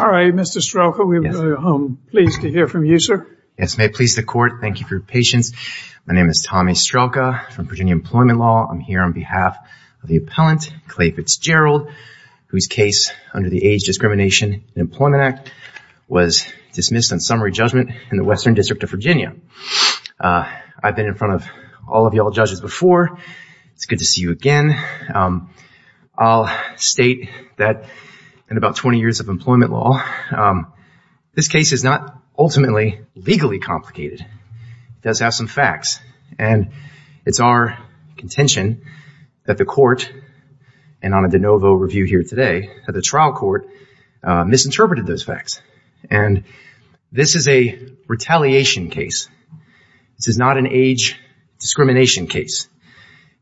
All right, Mr. Strelka, we're pleased to hear from you sir. Yes, may it please the court. Thank you for your patience My name is Tommy Strelka from Virginia Employment Law. I'm here on behalf of the appellant Clay Fitzgerald Whose case under the Age Discrimination and Employment Act was dismissed on summary judgment in the Western District of Virginia I've been in front of all of y'all judges before it's good to see you again I'll state that in about 20 years of employment law This case is not ultimately legally complicated. It does have some facts and It's our contention that the court and on a de novo review here today that the trial court misinterpreted those facts and This is a retaliation case This is not an age Discrimination case.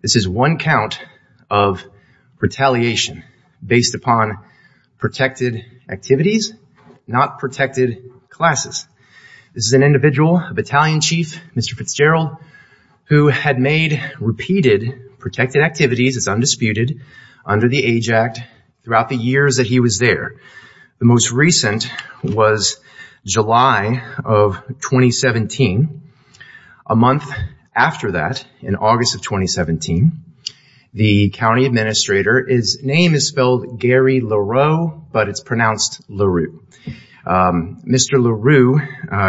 This is one count of Retaliation based upon protected activities Not protected classes. This is an individual battalion chief. Mr. Fitzgerald Who had made repeated protected activities as undisputed under the Age Act throughout the years that he was there the most recent was July of 2017 a In August of 2017 The county administrator his name is spelled Gary Leroux, but it's pronounced Leroux Mr. Leroux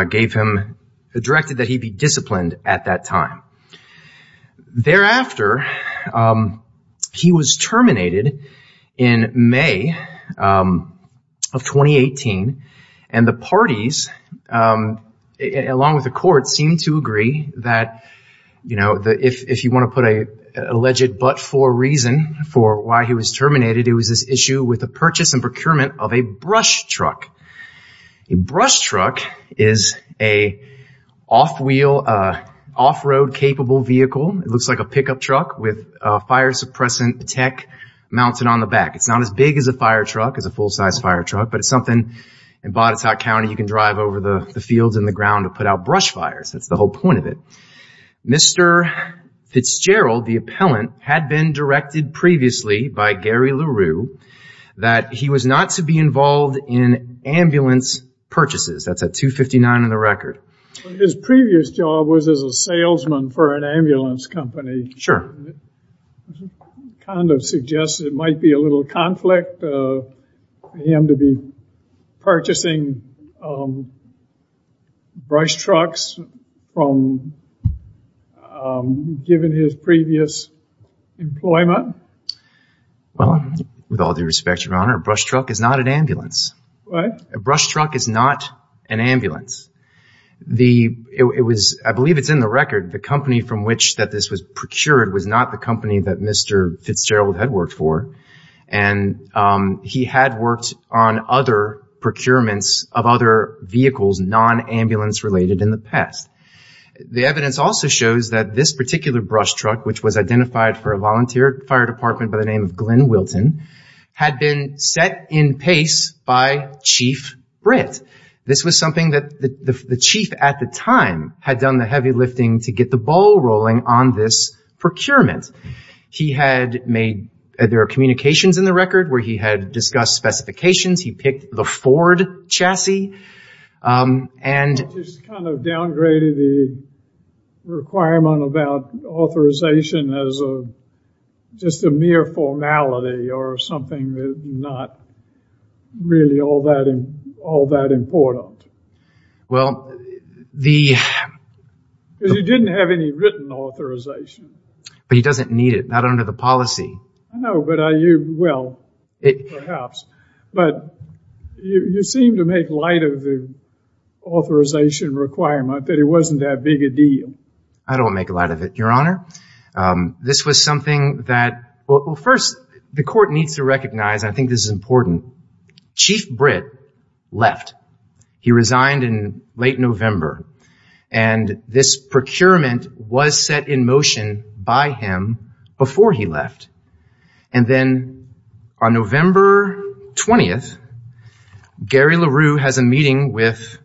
gave him directed that he'd be disciplined at that time Thereafter He was terminated in May of 2018 and the parties Along with the court seemed to agree that you know that if you want to put a Alleged but for reason for why he was terminated. It was this issue with the purchase and procurement of a brush truck a brush truck is a off wheel Off-road capable vehicle. It looks like a pickup truck with fire suppressant tech mounted on the back It's not as big as a fire truck as a full-size fire truck But it's something in Botetourt County. You can drive over the the fields in the ground to put out brush fires That's the whole point of it Mr. Fitzgerald the appellant had been directed previously by Gary Leroux That he was not to be involved in Ambulance purchases. That's a 259 in the record. His previous job was as a salesman for an ambulance company. Sure Kind of suggests it might be a little conflict Him to be purchasing Brush trucks from Given his previous employment Well with all due respect your honor brush truck is not an ambulance. What a brush truck is not an ambulance The it was I believe it's in the record the company from which that this was procured was not the company that mr Fitzgerald had worked for and He had worked on other procurements of other vehicles non ambulance related in the past The evidence also shows that this particular brush truck which was identified for a volunteer fire department by the name of Glenn Wilton Had been set in pace by chief Brit This was something that the chief at the time had done the heavy lifting to get the ball rolling on this Procurement he had made there are communications in the record where he had discussed specifications. He picked the Ford chassis and Requirement about authorization as a Just a mere formality or something. They're not Really all that in all that important well the Because you didn't have any written authorization But he doesn't need it not under the policy. No, but are you well it perhaps but you seem to make light of the Authorization requirement that it wasn't that big a deal. I don't make a lot of it your honor This was something that well first the court needs to recognize. I think this is important chief Brit left he resigned in late November and This procurement was set in motion by him before he left and then on November 20th Gary LaRue has a meeting with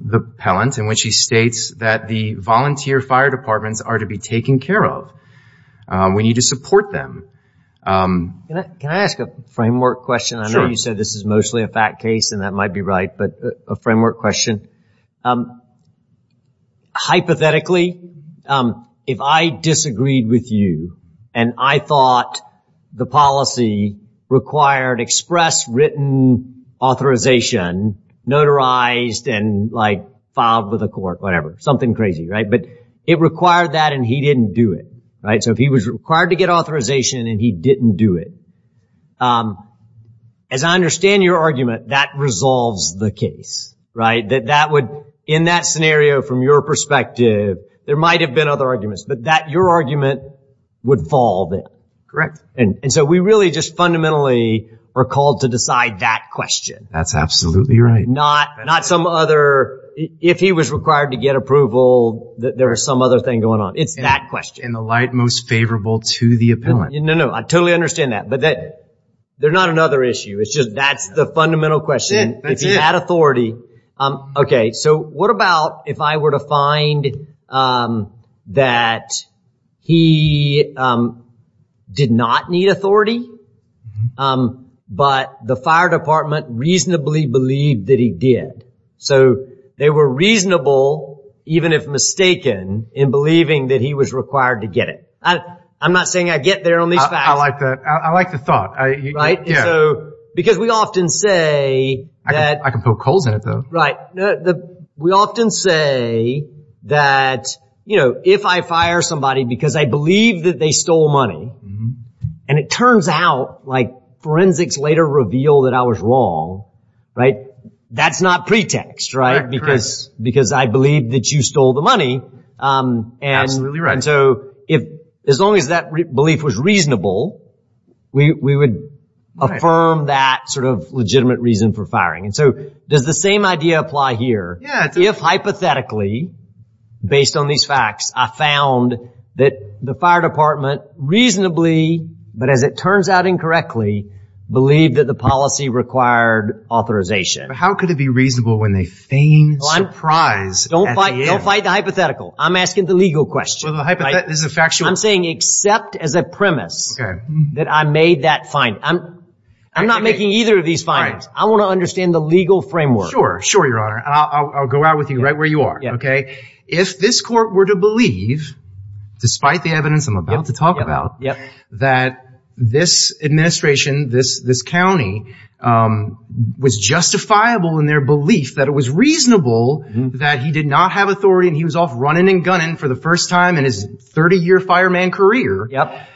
The pellant in which he states that the volunteer fire departments are to be taken care of We need to support them Can I ask a framework question? I know you said this is mostly a fact case and that might be right but a framework question Hypothetically If I disagreed with you and I thought the policy required express written authorization Notarized and like filed with a court whatever something crazy, right? But it required that and he didn't do it, right? So if he was required to get authorization and he didn't do it as I understand your argument that resolves the case right that that would in that scenario from your perspective There might have been other arguments, but that your argument would fall then correct And and so we really just fundamentally are called to decide that question. That's absolutely right Not not some other if he was required to get approval that there are some other thing going on It's that question in the light most favorable to the appellant. No. No, I totally understand that but that they're not another issue It's just that's the fundamental question. It's an ad authority Okay. So what about if I were to find? That he Did not need authority But the fire department reasonably believed that he did so they were reasonable Even if mistaken in believing that he was required to get it. I'm not saying I get there on these back I like that. I like the thought I Because we often say that I can poke holes in it though, right the we often say that you know if I fire somebody because I believe that they stole money and it turns out like Forensics later reveal that I was wrong Right, that's not pretext right because because I believe that you stole the money And really right so if as long as that belief was reasonable We would Affirm that sort of legitimate reason for firing. And so does the same idea apply here? Yeah, if hypothetically Based on these facts. I found that the fire department Reasonably, but as it turns out incorrectly Believe that the policy required authorization. How could it be reasonable when they feign surprise? Don't fight. Don't fight the hypothetical. I'm asking the legal question This is a factually I'm saying except as a premise that I made that fine I'm I'm not making either of these fine. I want to understand the legal framework. Sure. Sure your honor I'll go out with you right where you are. Okay, if this court were to believe Despite the evidence. I'm about to talk about. Yeah that this administration this this County Was justifiable in their belief that it was reasonable That he did not have authority and he was off running and gunning for the first time in his 30-year fireman career. Yep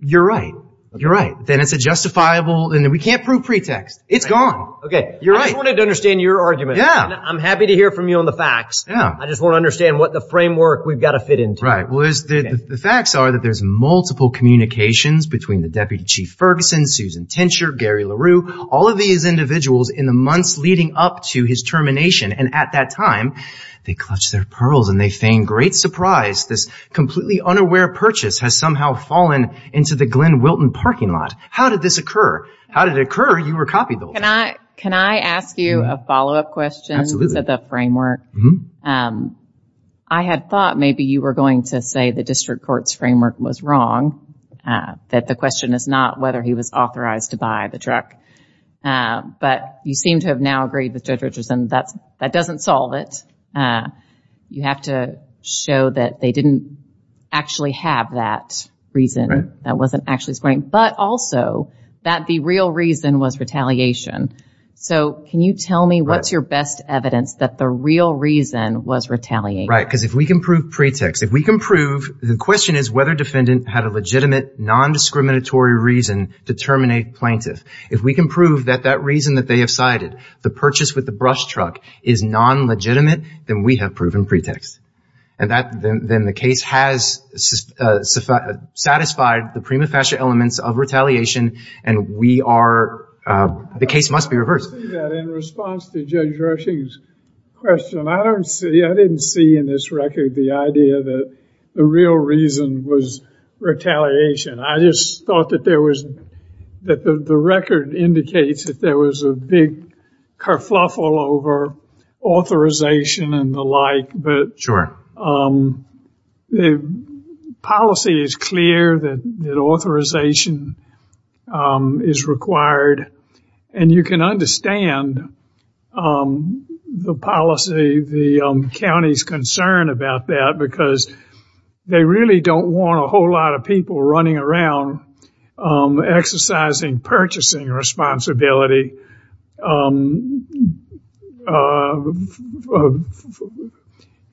You're right. You're right. Then it's a justifiable and then we can't prove pretext. It's gone. Okay, you're right I wanted to understand your argument. Yeah, I'm happy to hear from you on the facts Yeah, I just want to understand what the framework we've got to fit in right was the facts are that there's multiple communications between the deputy chief Ferguson Susan tincture Gary LaRue all of these Individuals in the months leading up to his termination and at that time They clutched their pearls and they feigned great surprise this completely unaware purchase has somehow fallen into the Glen Wilton parking lot How did this occur? How did it occur? You were copied? Oh, can I can I ask you a follow-up questions at the framework? Mm-hmm. I had thought maybe you were going to say the district courts framework was wrong That the question is not whether he was authorized to buy the truck But you seem to have now agreed with judge Richardson, that's that doesn't solve it You have to show that they didn't actually have that reason That wasn't actually spring but also that the real reason was retaliation So, can you tell me what's your best evidence that the real reason was retaliate? Right because if we can prove pretext if we can prove the question is whether defendant had a legitimate Non-discriminatory reason to terminate plaintiff if we can prove that that reason that they have cited the purchase with the brush truck is Non-legitimate then we have proven pretext and that then the case has Satisfied the prima facie elements of retaliation and we are The case must be reversed Question I don't see I didn't see in this record the idea that the real reason was Retaliation, I just thought that there was that the record indicates that there was a big kerfuffle over Authorization and the like but sure The Policy is clear that authorization Is required and you can understand The policy the county's concern about that because They really don't want a whole lot of people running around Exercising purchasing responsibility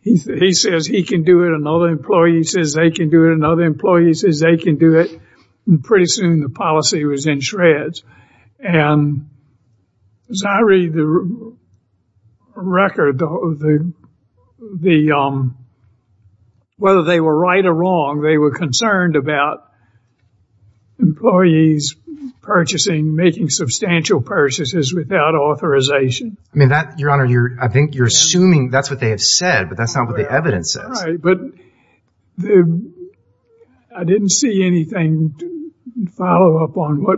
He says he can do it another employee says they can do it another employee says they can do it pretty soon the policy was in shreds and As I read the Record of the the Whether they were right or wrong. They were concerned about Employees Purchasing making substantial purchases without authorization. I mean that your honor. You're I think you're assuming that's what they have said but that's not what the evidence says, but the I Didn't see anything follow up on what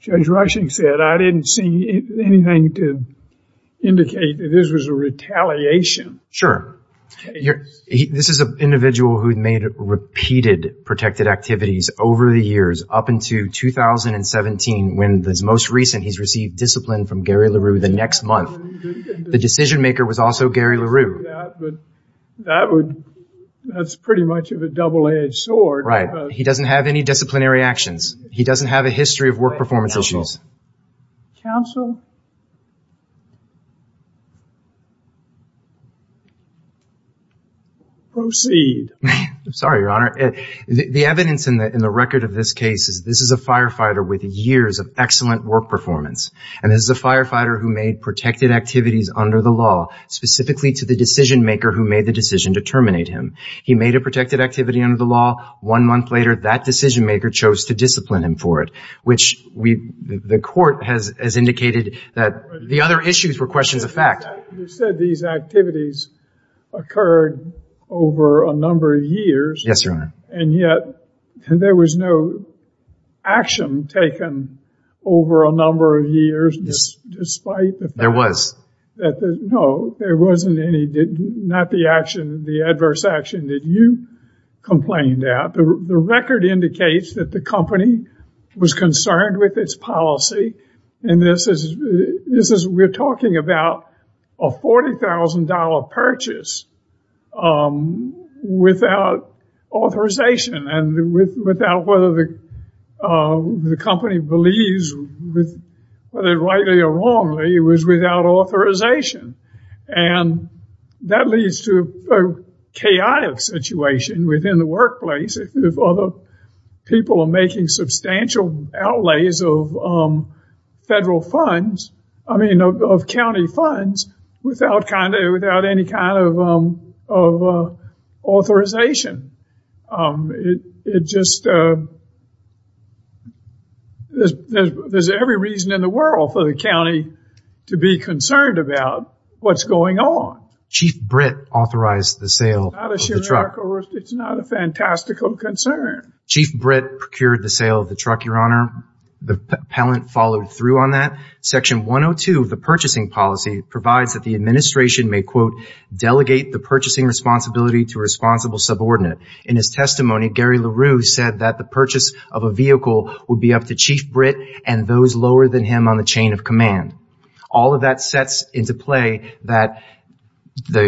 Judge rushing said I didn't see anything to Indicate that this was a retaliation. Sure Here this is a individual who made repeated protected activities over the years up into 2017 when this most recent he's received discipline from Gary LaRue the next month the decision-maker was also Gary LaRue that would That's pretty much of a double-edged sword, right? He doesn't have any disciplinary actions. He doesn't have a history of work performance issues counsel Proceed Sorry, your honor the evidence in the in the record of this case is this is a firefighter with years of excellent work performance And this is a firefighter who made protected activities under the law Specifically to the decision-maker who made the decision to terminate him He made a protected activity under the law one month later that decision-maker chose to discipline him for it Which we the court has as indicated that the other issues were questions of fact Said these activities Occurred over a number of years. Yes, your honor and yet and there was no action taken over a number of years Despite there was that no there wasn't any did not the action the adverse action that you complained at the record indicates that the company was concerned with its policy and this is This is we're talking about $40,000 purchase Without authorization and with without whether the the company believes with whether rightly or wrongly it was without authorization and that leads to a chaotic situation within the workplace if other people are making substantial outlays of Federal funds, I mean of county funds without kind of without any kind of Authorization it just There's every reason in the world for the county to be concerned about what's going on chief Brit authorized the sale It's not a fantastical concern chief Brit procured the sale of the truck your honor The appellant followed through on that section 102 of the purchasing policy provides that the administration may quote Delegate the purchasing responsibility to a responsible subordinate in his testimony Gary LaRue said that the purchase of a vehicle would be up to chief Brit and those lower than him on the chain of command all of that sets into play that The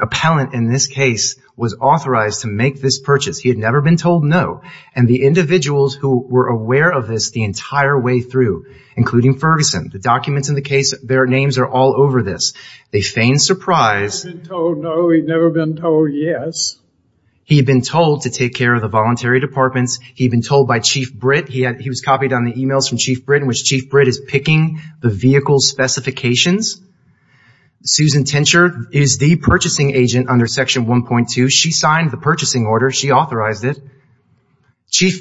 appellant in this case was authorized to make this purchase he had never been told no and the Individuals who were aware of this the entire way through including Ferguson the documents in the case Their names are all over this they feign surprise Yes He'd been told to take care of the voluntary departments. He'd been told by chief Brit He had he was copied on the emails from chief Brit in which chief Brit is picking the vehicle specifications Susan tincture is the purchasing agent under section 1.2. She signed the purchasing order. She authorized it Chief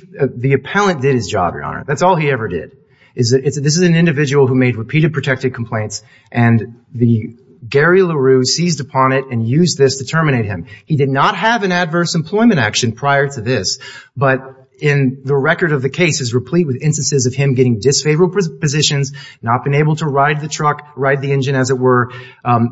the appellant did his job your honor. That's all he ever did is that it's this is an individual who made repeated protected complaints and The Gary LaRue seized upon it and used this to terminate him He did not have an adverse employment action prior to this But in the record of the case is replete with instances of him getting disfavorable Positions not been able to ride the truck ride the engine as it were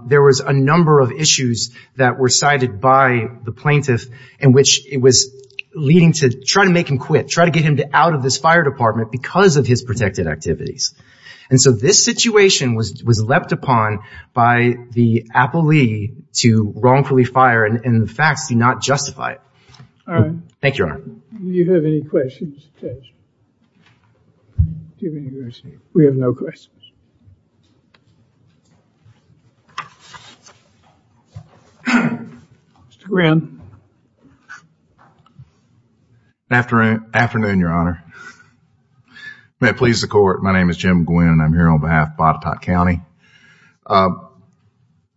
there was a number of issues that were cited by the plaintiff in which it was Leading to try to make him quit try to get him to out of this fire department because of his protected activities And so this situation was was leapt upon by the Apple II to wrongfully fire And in the facts do not justify it Thank you We have no questions Mr. Gwynn Afternoon your honor May it please the court. My name is Jim Gwynn. I'm here on behalf of Botetourt County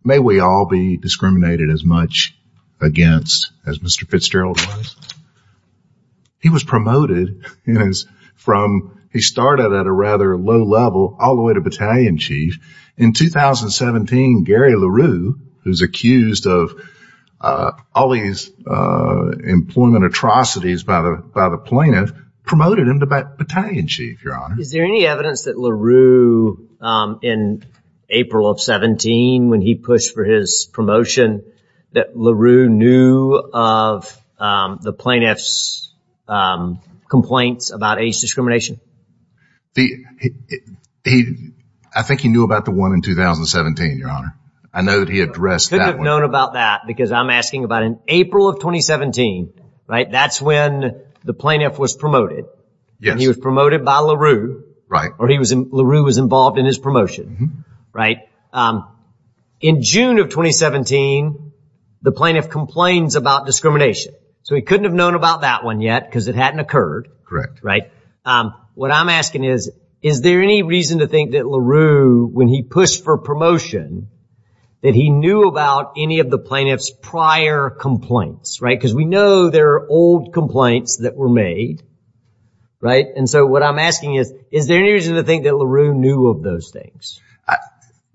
May we all be discriminated as much against as Mr. Fitzgerald was He was promoted in his from he started at a rather low level all the way to battalion chief in 2017 Gary LaRue who's accused of all these Employment atrocities by the by the plaintiff promoted him to bat battalion chief. Your honor. Is there any evidence that LaRue? in April of 17 when he pushed for his promotion that LaRue knew of The plaintiffs Complaints about age discrimination the He I think he knew about the one in 2017 your honor. I know that he addressed that known about that because I'm asking about in April of 2017, right? That's when the plaintiff was promoted Yeah, he was promoted by LaRue right or he was in LaRue was involved in his promotion, right? in June of 2017 The plaintiff complains about discrimination so he couldn't have known about that one yet because it hadn't occurred correct, right? What I'm asking is is there any reason to think that LaRue when he pushed for promotion? That he knew about any of the plaintiffs prior complaints, right? Because we know there are old complaints that were made Right. And so what I'm asking is is there any reason to think that LaRue knew of those things?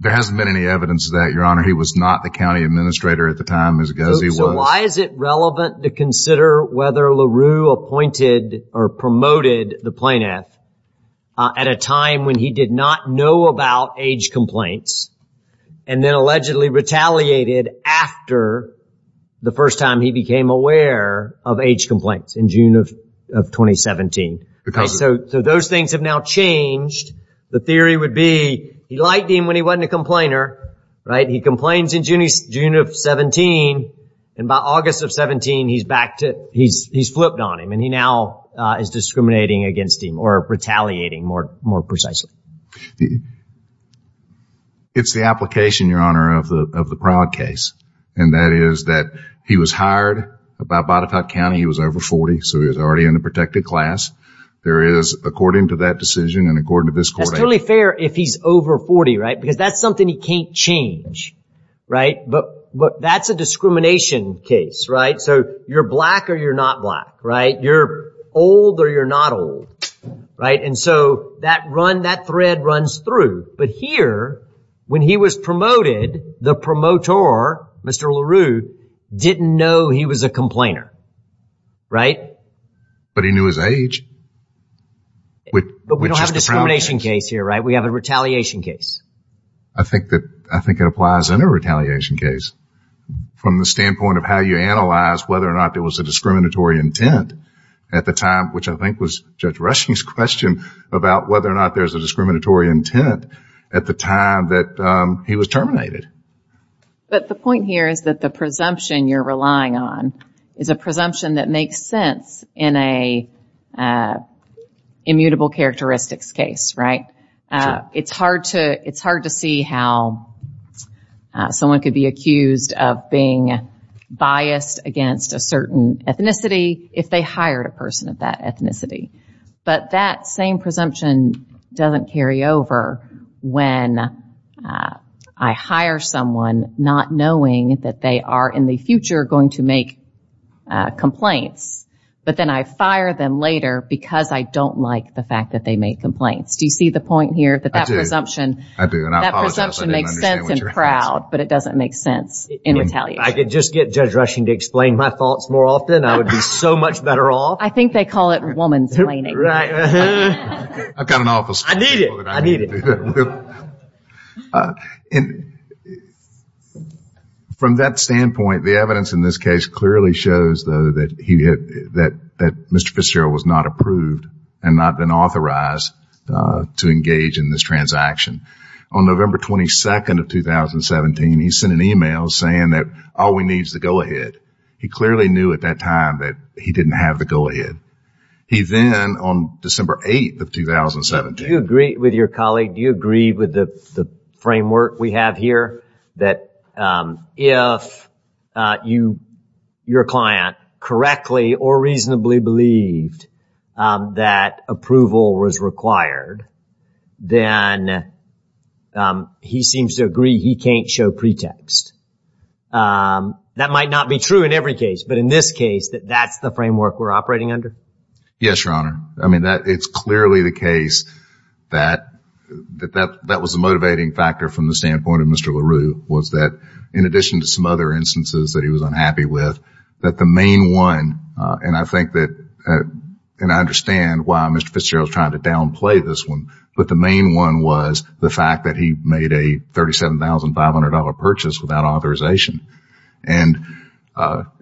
There hasn't been any evidence that your honor he was not the county administrator at the time as a guy So why is it relevant to consider whether LaRue appointed or promoted the plaintiff? at a time when he did not know about age complaints and then allegedly retaliated after The first time he became aware of age complaints in June of 2017 because so those things have now changed The theory would be he liked him when he wasn't a complainer, right? He complains in June of 17 and by August of 17 He's back to he's he's flipped on him and he now is discriminating against him or retaliating more more precisely It's the application your honor of the of the proud case and that is that he was hired by Botetourt County He was over 40. So he was already in a protected class There is according to that decision and according to this clearly fair if he's over 40, right because that's something he can't change Right, but but that's a discrimination case, right? So you're black or you're not black, right? You're old or you're not old Right, and so that run that thread runs through but here when he was promoted the promoter Mr. LaRue Didn't know he was a complainer Right, but he knew his age Which we don't have a discrimination case here, right? We have a retaliation case. I think that I think it applies in a retaliation case From the standpoint of how you analyze whether or not there was a discriminatory intent at the time Which I think was judge rushing's question about whether or not there's a discriminatory intent at the time that he was terminated But the point here is that the presumption you're relying on is a presumption that makes sense in a Immutable characteristics case, right? It's hard to it's hard to see how Someone could be accused of being Biased against a certain ethnicity if they hired a person of that ethnicity, but that same presumption doesn't carry over when I Hire someone not knowing that they are in the future going to make Complaints, but then I fire them later because I don't like the fact that they make complaints Do you see the point here that that presumption? Proud but it doesn't make sense in retaliation I could just get judge rushing to explain my thoughts more often. I would be so much better off I think they call it woman's In From that standpoint the evidence in this case clearly shows though that he had that that mr Fitzgerald was not approved and not been authorized to engage in this transaction on November 22nd of 2017 he sent an email saying that all we needs to go ahead He clearly knew at that time that he didn't have the go-ahead He then on December 8th of 2017 you agree with your colleague do you agree with the framework we have here that if you your client correctly or reasonably believed That approval was required then He seems to agree he can't show pretext That might not be true in every case. But in this case that that's the framework. We're operating under. Yes, your honor I mean that it's clearly the case That That that that was a motivating factor from the standpoint of mr LaRue was that in addition to some other instances that he was unhappy with that the main one and I think that And I understand why mr. Fitzgerald trying to downplay this one but the main one was the fact that he made a thirty seven thousand five hundred dollar purchase without authorization and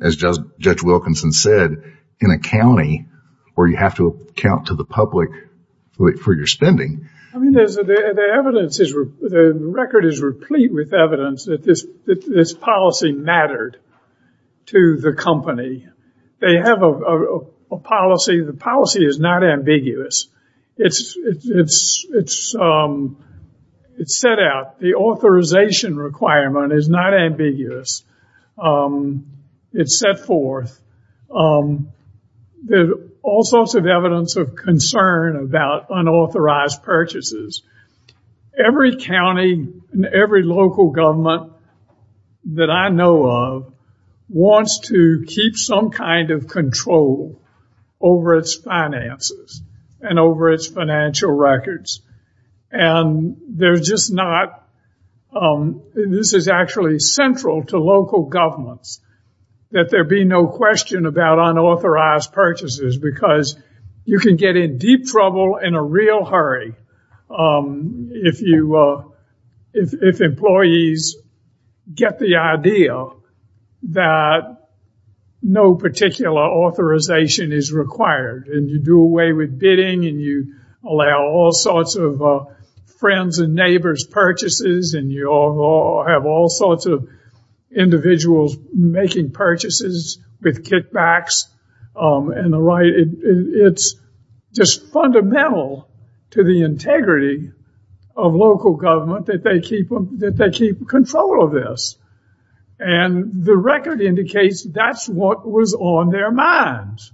As just judge Wilkinson said in a county where you have to count to the public For your spending Record is replete with evidence that this this policy mattered to the company they have a Policy the policy is not ambiguous. It's it's it's It's set out the authorization requirement is not ambiguous It's set forth The all sorts of evidence of concern about unauthorized purchases every county and every local government that I know of wants to keep some kind of control over its finances and over its financial records and They're just not This is actually central to local governments That there be no question about unauthorized purchases because you can get in deep trouble in a real hurry if you if employees Get the idea that No particular Authorization is required and you do away with bidding and you allow all sorts of friends and neighbors purchases and you all have all sorts of Individuals making purchases with kickbacks and the right it's just fundamental to the integrity of local government that they keep them that they keep control of this and The record indicates that's what was on their minds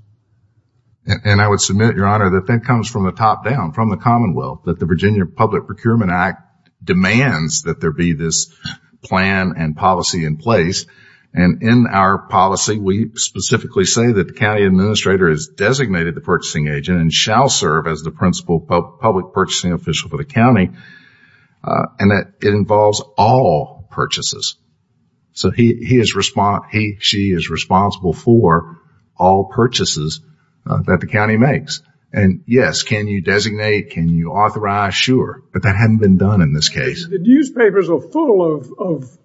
And I would submit your honor that that comes from the top down from the Commonwealth that the Virginia Public Procurement Act Demands that there be this plan and policy in place and in our policy We specifically say that the county administrator is designated the purchasing agent and shall serve as the principal public purchasing official for the county And that it involves all purchases So he is respond. He she is responsible for all Newspapers are full of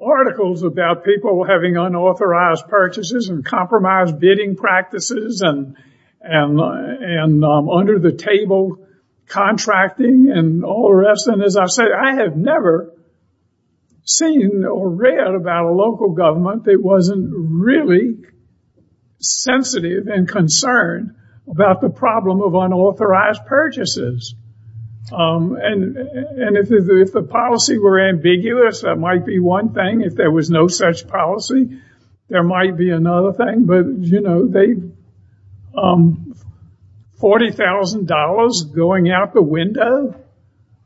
Articles about people having unauthorized purchases and compromise bidding practices and and And under the table Contracting and all the rest and as I said, I have never Seen or read about a local government. It wasn't really Sensitive and concerned about the problem of unauthorized purchases And And if the policy were ambiguous that might be one thing if there was no such policy there might be another thing but you know, they $40,000 going out the window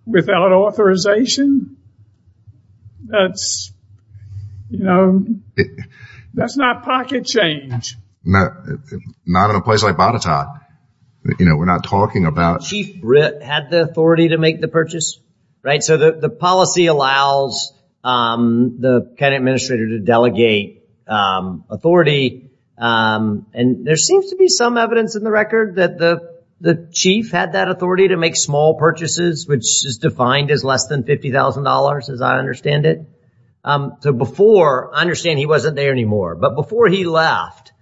without authorization that's You know That's not pocket change. No Not in a place like Bonita You know, we're not talking about Chief Britt had the authority to make the purchase right so that the policy allows the county administrator to delegate authority And there seems to be some evidence in the record that the the chief had that authority to make small purchases Which is defined as less than $50,000 as I understand it So before I understand he wasn't there anymore, but before he left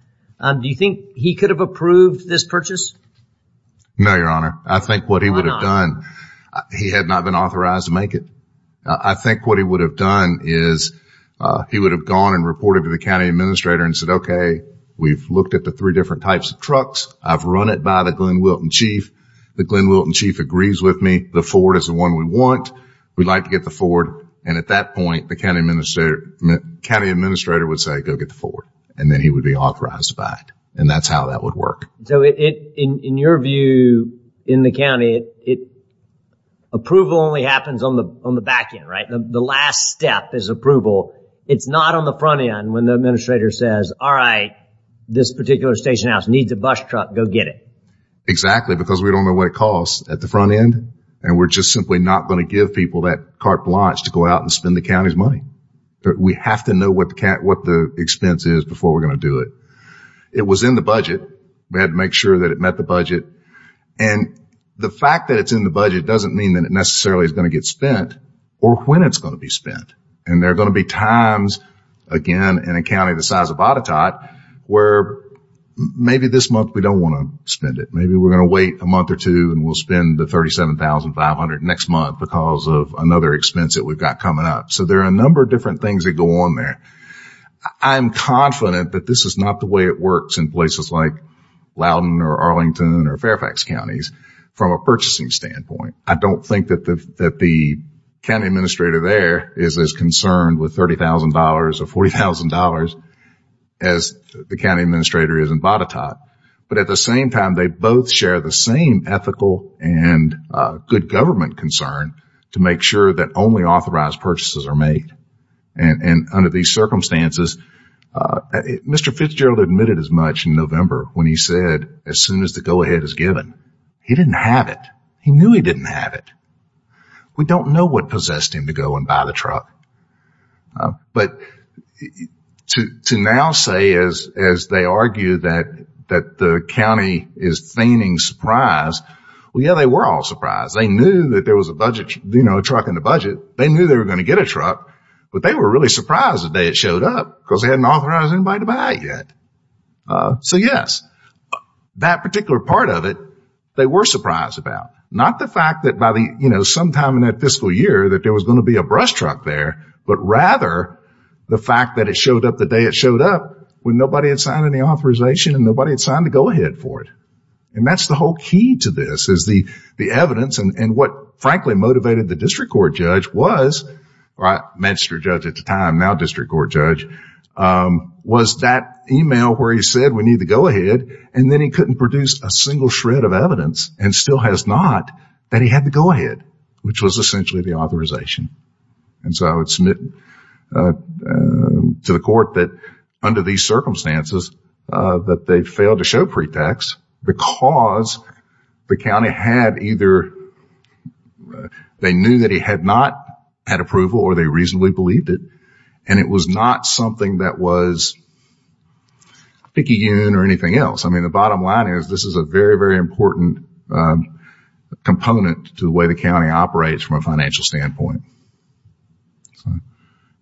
Do you think he could have approved this purchase? No, your honor. I think what he would have done He had not been authorized to make it. I think what he would have done is He would have gone and reported to the county administrator and said, okay, we've looked at the three different types of trucks I've run it by the Glen Wilton chief the Glen Wilton chief agrees with me The Ford is the one we want we'd like to get the Ford and at that point the county minister County administrator would say go get the Ford and then he would be authorized by it and that's how that would work So it in your view in the county it Approval only happens on the on the back end, right? The last step is approval It's not on the front end when the administrator says, all right This particular station house needs a bus truck go get it Exactly because we don't know what it costs at the front end and we're just simply not going to give people that carte blanche to go out and spend the county's money But we have to know what the cat what the expense is before we're going to do it it was in the budget we had to make sure that it met the budget and The fact that it's in the budget doesn't mean that it necessarily is going to get spent or when it's going to be spent And they're going to be times again in a county the size of Ottetot where Maybe this month we don't want to spend it A month or two and we'll spend the thirty seven thousand five hundred next month because of another expense that we've got coming up So there are a number of different things that go on there I'm confident that this is not the way it works in places like Loudon or Arlington or Fairfax counties from a purchasing standpoint. I don't think that the that the county administrator there is as concerned with thirty thousand dollars or forty thousand dollars as the county administrator is in Bottetot, but at the same time they both share the same ethical and Good government concern to make sure that only authorized purchases are made and and under these circumstances Mr. Fitzgerald admitted as much in November when he said as soon as the go-ahead is given he didn't have it He knew he didn't have it We don't know what possessed him to go and buy the truck but To now say as as they argue that that the county is feigning surprise Well, yeah, they were all surprised. They knew that there was a budget, you know truck in the budget They knew they were going to get a truck But they were really surprised the day it showed up because they hadn't authorized anybody to buy it yet So yes That particular part of it They were surprised about not the fact that by the you know sometime in that fiscal year that there was going to be a brush truck there, but rather the fact that it showed up the day it showed up when nobody had signed any authorization and nobody had signed to go ahead for It and that's the whole key to this is the the evidence and what frankly motivated the district court judge was Right magistrate judge at the time now district court judge Was that email where he said we need to go ahead and then he couldn't produce a single shred of evidence and still has not That he had to go ahead which was essentially the authorization and so I would submit To the court that under these circumstances that they failed to show pretext because the county had either They knew that he had not had approval or they reasonably believed it and it was not something that was Picky youn or anything else. I mean the bottom line is this is a very very important Component to the way the county operates from a financial standpoint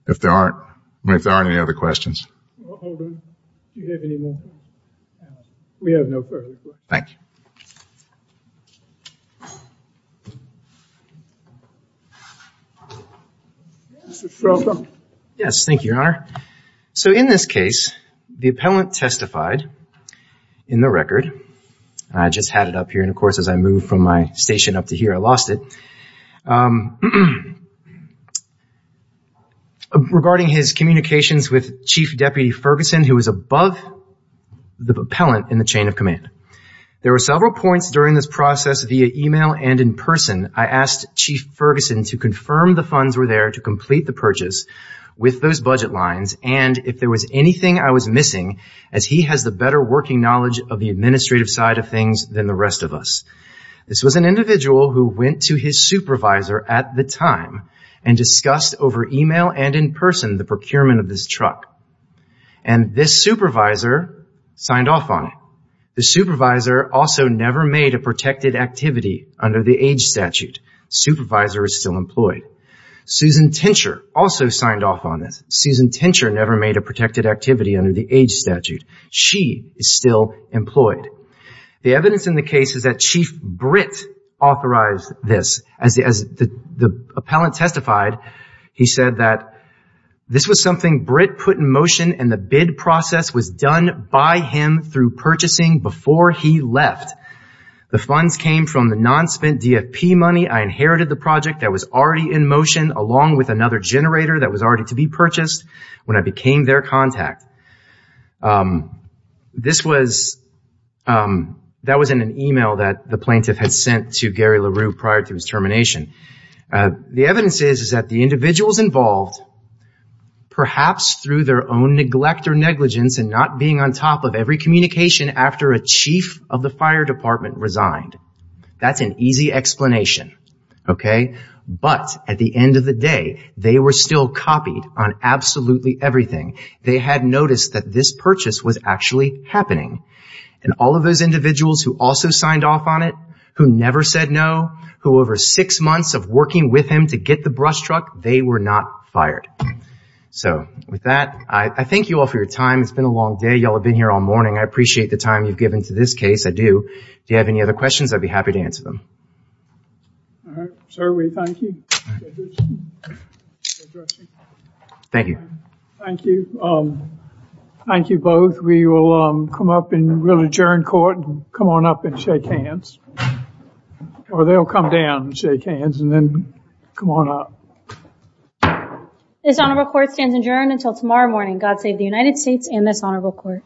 If there aren't if there aren't any other questions Thank Yes, thank you your honor so in this case the appellant testified In the record. I just had it up here. And of course as I move from my station up to here, I lost it Regarding his communications with Chief Deputy Ferguson who was above The appellant in the chain of command there were several points during this process via email and in person I asked Chief Ferguson to confirm the funds were there to complete the purchase with those budget lines And if there was anything I was missing as he has the better working knowledge of the administrative side of things than the rest of us this was an individual who went to his supervisor at the time and Discussed over email and in person the procurement of this truck and this supervisor Signed off on it. The supervisor also never made a protected activity under the age statute Supervisor is still employed Susan tincture also signed off on this Susan tincture never made a protected activity under the age statute She is still employed the evidence in the case is that Chief Britt Authorized this as the appellant testified he said that This was something Britt put in motion and the bid process was done by him through purchasing before he left The funds came from the non-spent DFP money I inherited the project that was already in motion along with another generator that was already to be purchased when I became their contact This was That was in an email that the plaintiff had sent to Gary LaRue prior to his termination The evidence is is that the individuals involved? Perhaps through their own neglect or negligence and not being on top of every communication after a chief of the fire department resigned That's an easy explanation Okay, but at the end of the day, they were still copied on absolutely everything They had noticed that this purchase was actually happening and all of those individuals who also signed off on it Who never said no who over six months of working with him to get the brush truck. They were not fired So with that I thank you all for your time. It's been a long day. Y'all have been here all morning I appreciate the time you've given to this case. I do do you have any other questions? I'd be happy to answer them All right, sir, we thank you Thank you, thank you Thank you both. We will come up and we'll adjourn court and come on up and shake hands Or they'll come down and shake hands and then come on up This honorable court stands adjourned until tomorrow morning. God save the United States and this honorable court